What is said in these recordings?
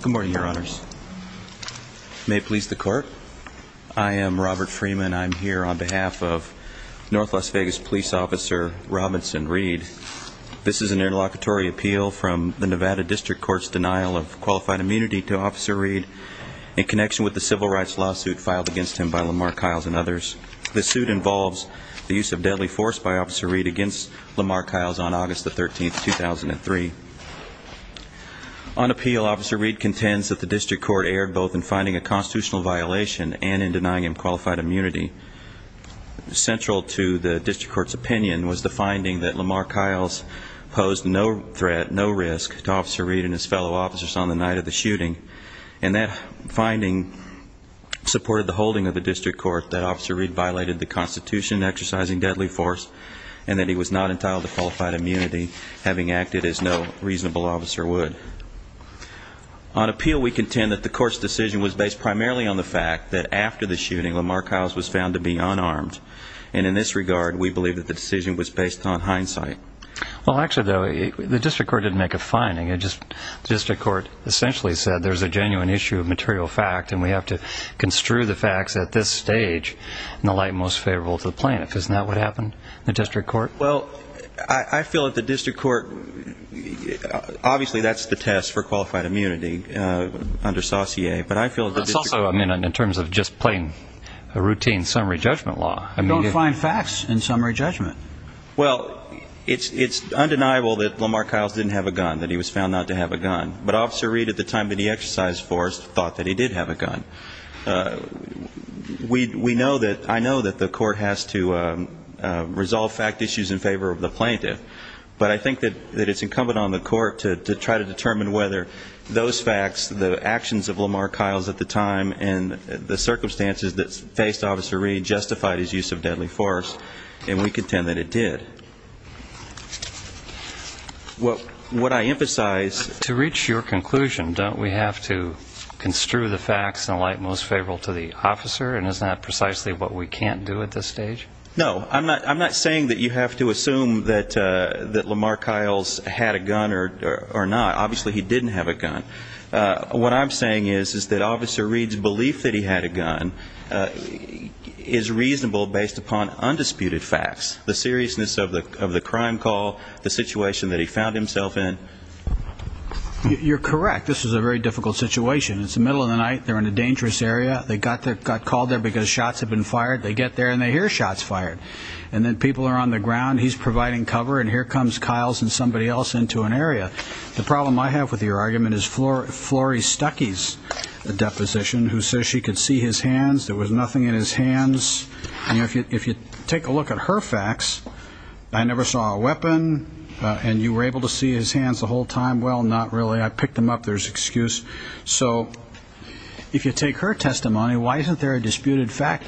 Good morning, your honors. May it please the court, I am Robert Freeman. I'm here on behalf of North Las Vegas Police Officer Robinson Reed. This is an interlocutory appeal from the Nevada District Court's denial of qualified immunity to Officer Reed in connection with the civil rights lawsuit filed against him by Lamar Kiles and others. The suit involves the use of deadly force by Officer Reed against Lamar Kiles on August the 13th, 2003. On appeal, Officer Reed contends that the District Court erred both in finding a constitutional violation and in denying him qualified immunity. Central to the District Court's opinion was the finding that Lamar Kiles posed no threat, no risk to Officer Reed and his fellow officers on the night of the shooting. And that finding supported the holding of the District Court that Officer Reed violated the Constitution exercising deadly force and that qualified immunity, having acted as no reasonable officer would. On appeal, we contend that the Court's decision was based primarily on the fact that after the shooting, Lamar Kiles was found to be unarmed. And in this regard, we believe that the decision was based on hindsight. Well, actually, the District Court didn't make a finding. It just, the District Court essentially said there's a genuine issue of material fact and we have to construe the facts at this stage in the light most favorable to the plaintiff. Isn't that what the District Court? Well, I feel that the District Court, obviously, that's the test for qualified immunity under saucier, but I feel it's also, I mean, in terms of just plain routine summary judgment law. I mean, you don't find facts in summary judgment. Well, it's undeniable that Lamar Kiles didn't have a gun, that he was found not to have a gun. But Officer Reed, at the time that he exercised force, thought that he did have a gun. Uh, we, we know that, I know that the Court has to, um, uh, resolve fact issues in favor of the plaintiff. But I think that, that it's incumbent on the Court to, to try to determine whether those facts, the actions of Lamar Kiles at the time and the circumstances that faced Officer Reed justified his use of deadly force. And we contend that it did. What, what I emphasize... To reach your conclusion, don't we have to construe the facts in a light most favorable to the officer? And is that precisely what we can't do at this stage? No, I'm not, I'm not saying that you have to assume that, uh, that Lamar Kiles had a gun or, or, or not. Obviously, he didn't have a gun. Uh, what I'm saying is, is that Officer Reed's belief that he had a gun, uh, is reasonable based upon undisputed facts. The seriousness of the, of the crime call, the situation that he found himself in. You're correct. This is a very dangerous area. They got there, got called there because shots had been fired. They get there and they hear shots fired. And then people are on the ground. He's providing cover. And here comes Kiles and somebody else into an area. The problem I have with your argument is Flori, Flori Stuckey's deposition, who says she could see his hands. There was nothing in his hands. And if you, if you take a look at her facts, I never saw a weapon. Uh, and you were able to see his hands the whole time. Well, not really. I picked them up. There's excuse. So if you take her testimony, why isn't there a disputed fact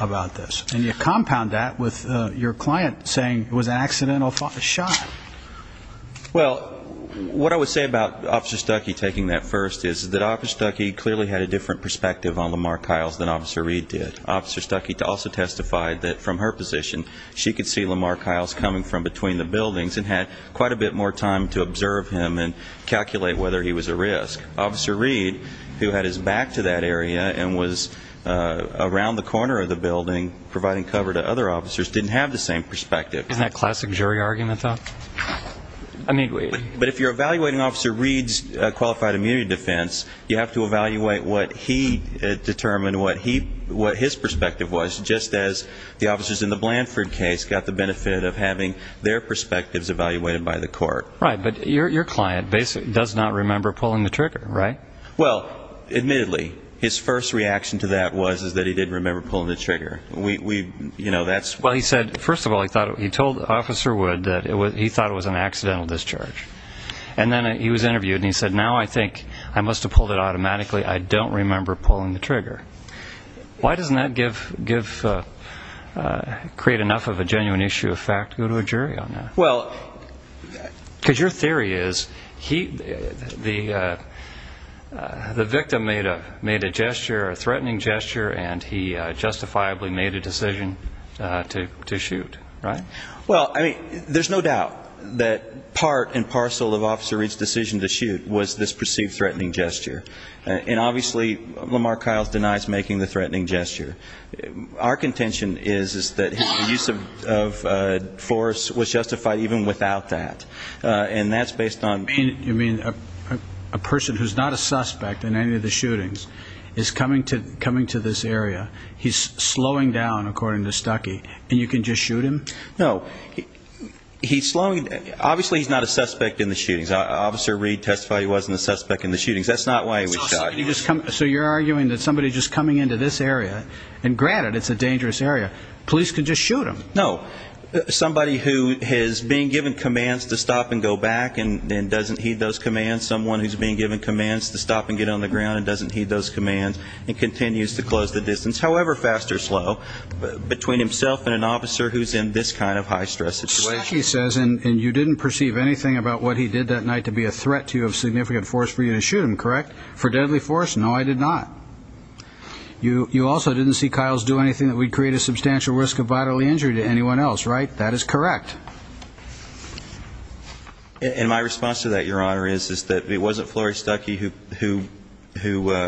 about this? And you compound that with your client saying it was an accidental shot. Well, what I would say about Officer Stuckey taking that first is that Officer Stuckey clearly had a different perspective on Lamar Kiles than Officer Reed did. Officer Stuckey also testified that from her position, she could see Lamar Kiles coming from between the buildings and had quite a bit more time to observe him and calculate whether he was a risk. Officer Reed, who had his back to that area and was around the corner of the building providing cover to other officers, didn't have the same perspective. Isn't that classic jury argument though? I mean, but if you're evaluating Officer Reed's qualified immunity defense, you have to evaluate what he determined, what he, what his perspective was, just as the officers in the Blanford case got benefit of having their perspectives evaluated by the court. Right, but your client basically does not remember pulling the trigger, right? Well, admittedly, his first reaction to that was that he didn't remember pulling the trigger. We, you know, that's. Well, he said, first of all, he thought, he told Officer Wood that he thought it was an accidental discharge. And then he was interviewed and he said, now I think I must have pulled it automatically. I don't remember pulling the trigger. Why doesn't that give, create enough of a genuine issue of fact to go to a jury on that? Well. Because your theory is he, the victim made a gesture, a threatening gesture, and he justifiably made a decision to shoot, right? Well, I mean, there's no doubt that part and parcel of Officer Reed's decision to shoot was this perceived threatening gesture. And obviously, Lamar Kyle's denies making the threatening gesture. Our contention is that his use of force was justified even without that. And that's based on. You mean a person who's not a suspect in any of the shootings is coming to this area, he's slowing down, according to Stuckey, and you can just shoot him? No, he's slowing. Obviously, he's not a suspect in the shootings. Officer Reed testified he wasn't a suspect in the shootings. That's not why he was shot. So you're arguing that somebody just coming into this area, and granted, it's a dangerous area, police could just shoot him. No. Somebody who is being given commands to stop and go back and doesn't heed those commands, someone who's being given commands to stop and get on the ground and doesn't heed those commands and continues to close the distance, however fast or slow, between himself and an officer who's in this kind of high stress situation. Stuckey says, and you didn't perceive anything about what he did that night to be a threat to you of significant force for you to shoot him, correct? For deadly force? No, I did not. You also didn't see Kyles do anything that would create a substantial risk of bodily injury to anyone else, right? That is correct. And my response to that, Your Honor, is that it wasn't Flory Stuckey who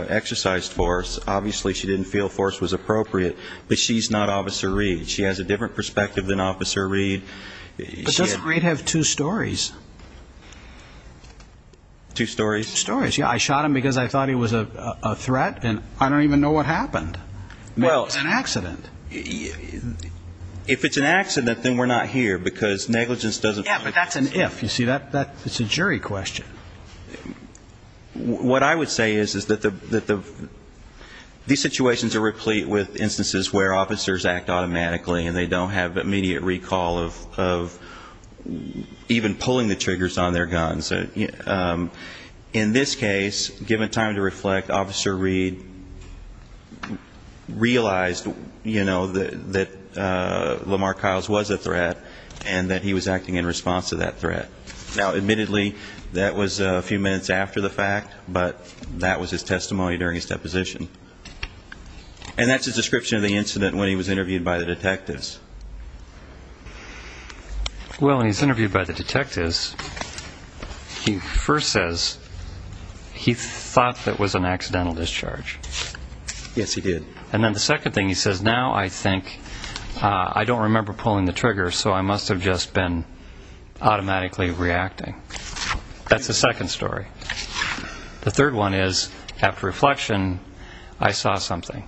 exercised force. Obviously, she didn't feel force was appropriate, but she's not Officer Reed. She has a different perspective than Officer Reed. But doesn't Reed have two stories? Two stories? Two stories, yeah. I shot him because I thought he was a threat, and I don't even know what happened. Well, it's an accident. If it's an accident, then we're not here, because negligence doesn't... Yeah, but that's an if. You see, that's a jury question. What I would say is that these situations are replete with instances where officers act automatically, and they don't have immediate recall of even pulling the triggers on their guns. In this case, given time to reflect, Officer Reed realized that Lamar Kyles was a threat, and that he was acting in response to that threat. Now, admittedly, that was a few minutes after the fact, but that was his testimony during his deposition. And that's a description of the detectives. Well, when he's interviewed by the detectives, he first says he thought that was an accidental discharge. Yes, he did. And then the second thing, he says, now I think I don't remember pulling the trigger, so I must have just been automatically reacting. That's the second story. The third one is, after reflection, I saw something.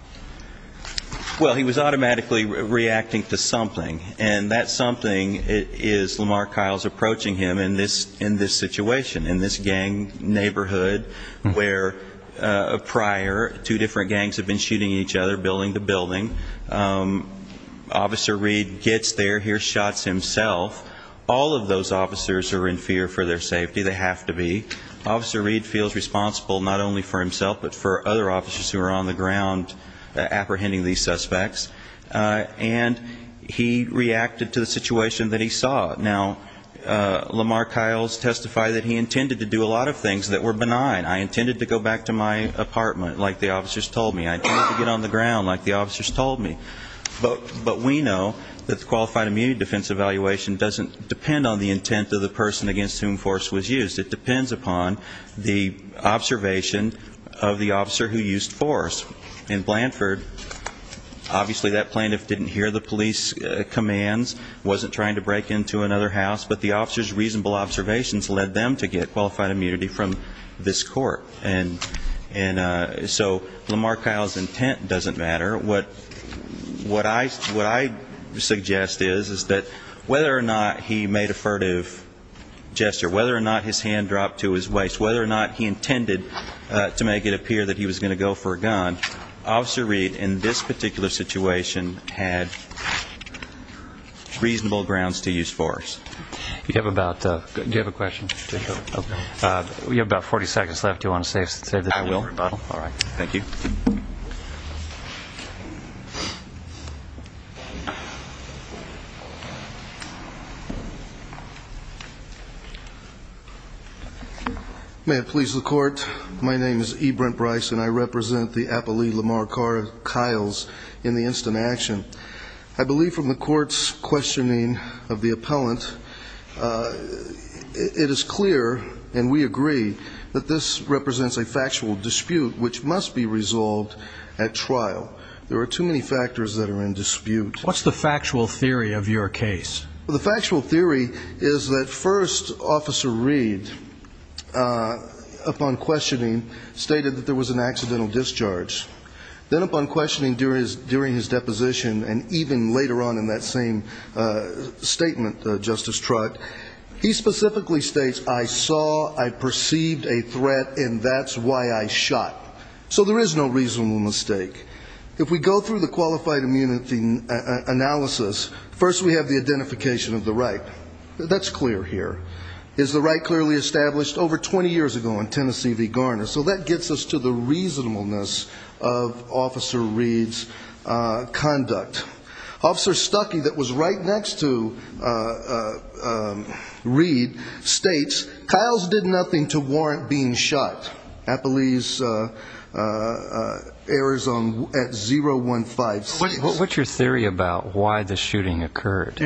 Well, he was automatically reacting to something, and that something is Lamar Kyles approaching him in this situation, in this gang neighborhood where prior, two different gangs have been shooting each other building to building. Officer Reed gets there, hears shots himself. All of those officers are in fear for their safety. They have to be. Officer Reed feels responsible not only for himself, but for other officers who are on the ground apprehending these suspects. And he reacted to the situation that he saw. Now, Lamar Kyles testified that he intended to do a lot of things that were benign. I intended to go back to my apartment, like the officers told me. I intended to get on the ground, like the officers told me. But we know that the qualified immunity defense evaluation doesn't depend on the intent of the person against whom force was used. It depends upon the observation of the officer who used force. In Blanford, obviously that plaintiff didn't hear the police commands, wasn't trying to break into another house, but the officer's reasonable observations led them to get qualified immunity from this court. And so Lamar Kyles' intent doesn't matter. What I suggest is that whether or not he made a furtive gesture, whether or not his hand dropped to his waist, whether or not he intended to make it appear that he was going to go for a gun, Officer Reed, in this particular situation, had reasonable grounds to do so. May it please the court, my name is E. Brent Brice and I represent the appellee Lamar Kyles in the instant action. I believe from the court's questioning of the appellant, it is clear and we agree that this represents a factual dispute which must be resolved at trial. There are too many factors that are in dispute. What's the factual theory of your case? The factual theory is that first, Officer Reed, upon questioning, stated that there was an accidental discharge. Then upon questioning during his deposition and even later on in that same statement, Justice Trott, he specifically states, I saw, I perceived a threat and that's why I shot. So there is no reasonable mistake. If we go through the qualified immunity analysis, first we have the identification of the right. That's clear here. Is the right clearly established? Over 20 years ago in Tennessee v. Garner. So that gets us to the reasonableness of Officer Reed's conduct. Officer Stuckey that was right next to Reed states, Kyles did nothing to warrant being shot. Appellee's errors at 0156. What's your theory about why the shooting occurred?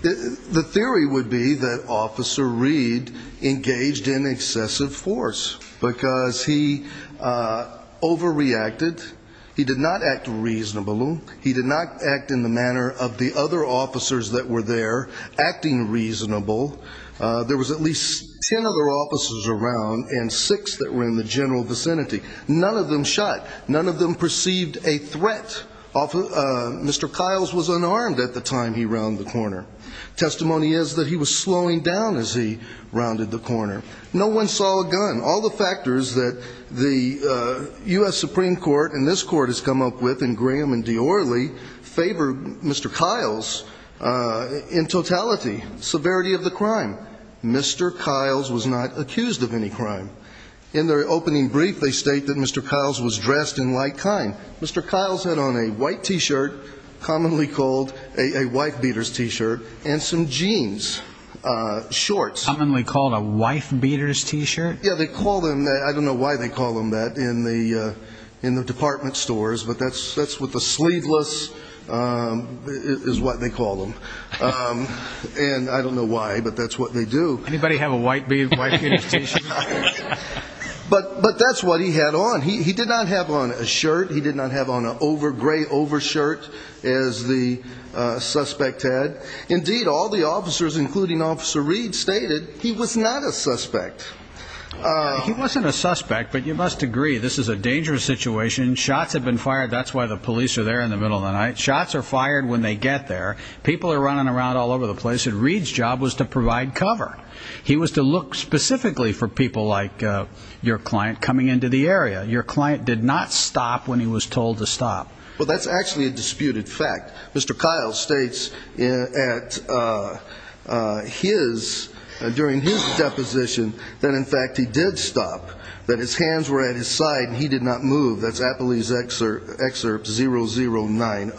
The theory would be that Officer Reed engaged in excessive force because he overreacted. He did not act reasonably. He did not act in the manner of the other officers that were there acting reasonable. There was at least 10 other officers around and six that were in the general vicinity. None of them shot. None of them perceived a threat. Mr. Kyles was unarmed at the time he rounded the corner. Testimony is that he was slowing down as he rounded the corner. No one saw a gun. All the factors that the U.S. Supreme Court and this court has come up with in Graham and Diorly favored Mr. Kyles in totality. Severity of the crime. Mr. Kyles was not accused of any crime. In their opening brief they state that Mr. Kyles was dressed in like kind. Mr. Kyles had on a white t-shirt commonly called a wife beaters t-shirt and some jeans, shorts. Commonly called wife beaters t-shirt? Yeah, they call them that. I don't know why they call them that in the department stores, but that's what the sleeveless is what they call them. I don't know why, but that's what they do. Anybody have a wife beaters t-shirt? But that's what he had on. He did not have on a shirt. He did not have on a gray over shirt as the suspect had. Indeed all the officers including Officer Reed stated he was not a suspect. He wasn't a suspect, but you must agree this is a dangerous situation. Shots have been fired. That's why the police are there in the middle of the night. Shots are fired when they get there. People are running around all over the place. Reed's job was to provide cover. He was to look specifically for people like your client coming into the area. Your client did not stop when he was told to stop. Well, that's actually a disputed fact. Mr. Kyle states during his deposition that in fact he did stop. That his hands were at his side and he did not move. That's Appley's excerpt 0090.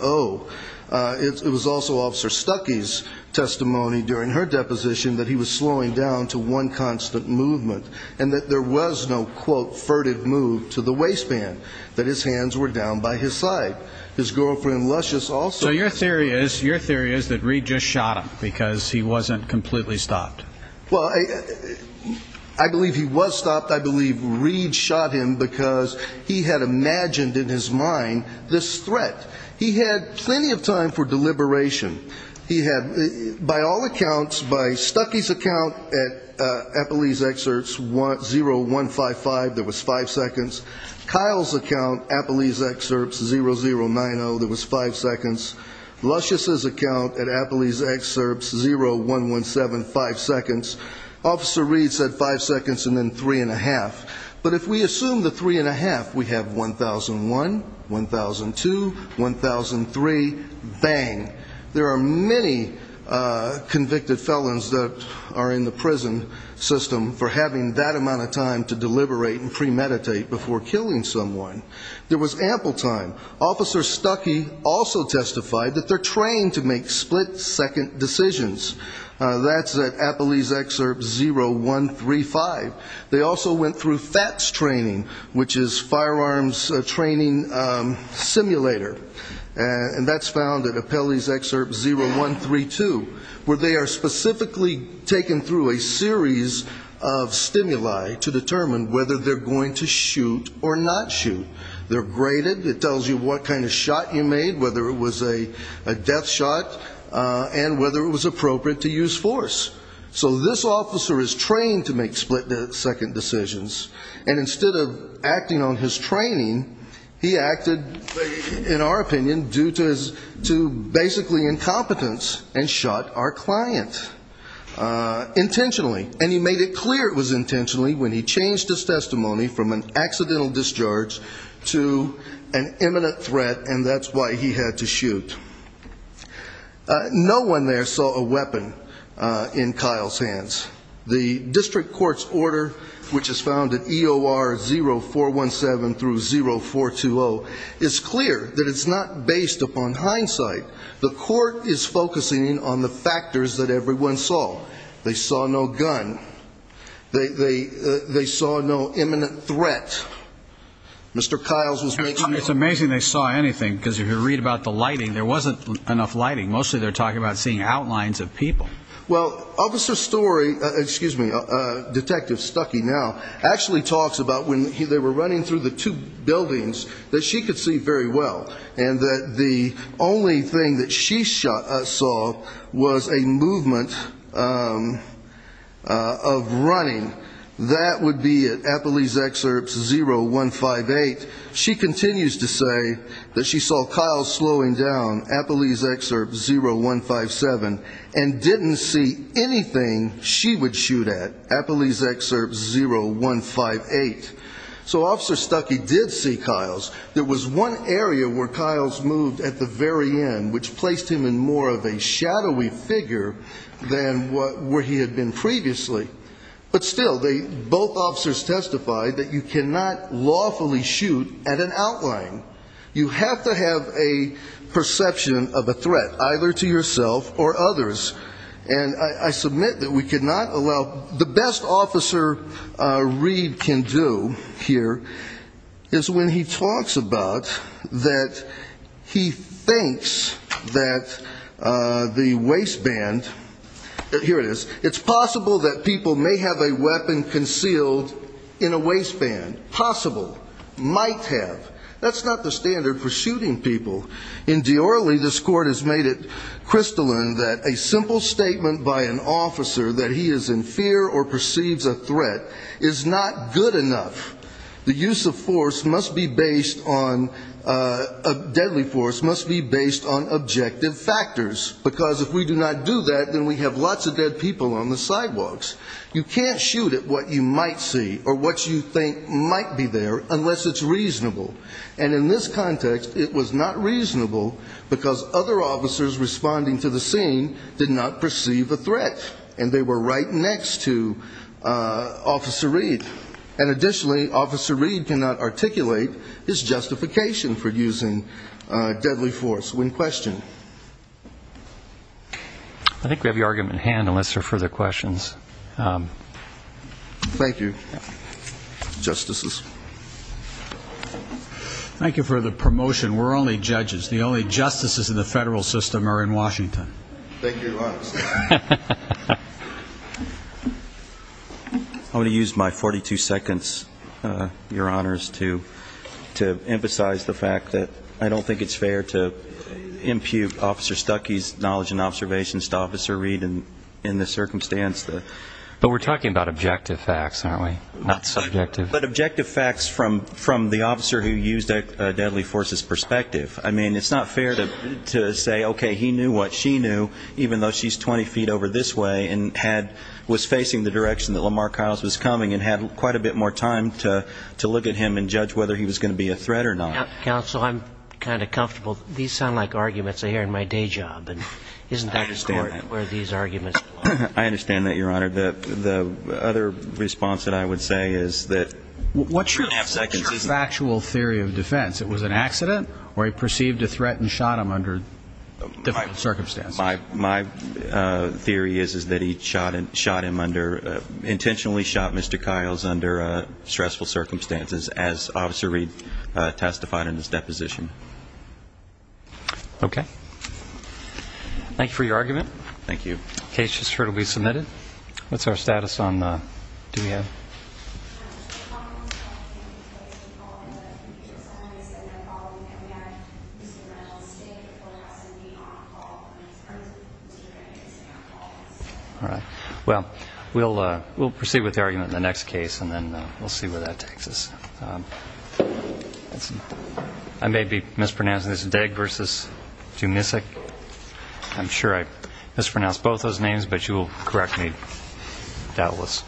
It was also Officer Stuckey's testimony during her deposition that he was slowing down to one constant movement and that there was no, quote, furted move to the waistband. That his hands were down by his side. His girlfriend Luscious also. So your theory is that Reed just shot him because he wasn't completely stopped. Well, I believe he was stopped. I believe Reed shot him because he had imagined in his mind this threat. He had plenty of time for deliberation. He had, by all accounts, by Stuckey's account at Appley's excerpts 0155, there was five seconds. Kyle's account, Appley's excerpts 0090, there was five seconds. Luscious's account at Appley's excerpts 0117, five seconds. Officer Reed said five seconds and then three and a half. But if we assume the three and a half, we have 1001, 1002, 1003, bang. There are many convicted felons that are in the prison system for having that amount of time to deliberate and premeditate before killing someone. There was ample time. Officer Stuckey also testified that they're trained to make split second decisions. That's at Appley's excerpt 0135. They also went through FATS training, which is firearms training simulator. And that's found at Appley's excerpt 0132, where they are specifically taken through a series of stimuli to determine whether they're going to shoot or not shoot. They're graded. It tells you what kind of shot you made, whether it was a death shot and whether it was appropriate to use force. So this officer is trained to make split second decisions. And instead of acting on his training, he acted, in our opinion, due to basically incompetence and shot our client intentionally. And he made it clear it was intentionally when he changed his to an imminent threat. And that's why he had to shoot. No one there saw a weapon in Kyle's hands. The district court's order, which is found at EOR 0417 through 0420, is clear that it's not based upon hindsight. The court is focusing on the factors that everyone saw. They saw no gun. They saw no imminent threat. Mr. Kyle's was making it's amazing they saw anything because if you read about the lighting, there wasn't enough lighting. Mostly they're talking about seeing outlines of people. Well, officer story excuse me, Detective Stucky now actually talks about when they were running through the two buildings that she could see very well and that the only thing that she saw was a movement of running. That would be at Appalee's Excerpt 0158. She continues to say that she saw Kyle slowing down, Appalee's Excerpt 0157, and didn't see anything she would shoot at, Appalee's Excerpt 0158. So officer Stucky did see Kyle's. There was one area where Kyle's moved at the very end, which placed him in more of a shadowy figure than where he had been previously. But still, both officers testified that you cannot lawfully shoot at an outline. You have to have a perception of a threat either to yourself or others. And I is when he talks about that he thinks that the waistband, here it is, it's possible that people may have a weapon concealed in a waistband. Possible. Might have. That's not the standard for shooting people. In Diorly, this court has made it crystalline that a simple statement by an officer that he is in fear or perceives a threat is not good enough. The use of force must be based on, deadly force must be based on objective factors. Because if we do not do that, then we have lots of dead people on the sidewalks. You can't shoot at what you might see or what you think might be there unless it's reasonable. And in this context, it was not reasonable because other officers responding to the scene did not perceive a threat. And they were right next to Officer Reed. And additionally, Officer Reed cannot articulate his justification for using deadly force when questioned. I think we have your argument at hand, unless there are further questions. Thank you, Justices. Thank you for the promotion. We're only judges. The only justices in the federal system are in Washington. Thank you, Your Honor. I'm going to use my 42 seconds, Your Honors, to emphasize the fact that I don't think it's fair to impute Officer Stuckey's knowledge and observations to Officer Reed in the circumstance. But we're talking about objective facts, aren't we? Not subjective. But objective facts from the officer who used deadly force's perspective. I mean, it's not fair to say, okay, he knew what she knew, even though she's 20 feet over this way and was facing the direction that Lamar Kyles was coming and had quite a bit more time to look at him and judge whether he was going to be a threat or not. Counsel, I'm kind of comfortable. These sound like arguments I hear in my day job. I understand that, Your Honor. The other response that I would say is that what's your factual theory of defense? It was an accident or he perceived a threat and shot him under different circumstances. My theory is that he shot him under intentionally shot Mr. Kyles under stressful circumstances as Officer Reed testified in his deposition. Okay. Thank you for your argument. Thank you. The case is sure to be submitted. What's our status on the? Do we have? All right. Well, we'll proceed with the argument in the next case and then we'll see where that do you miss it? I'm sure I mispronounced both those names, but you will correct me doubtless.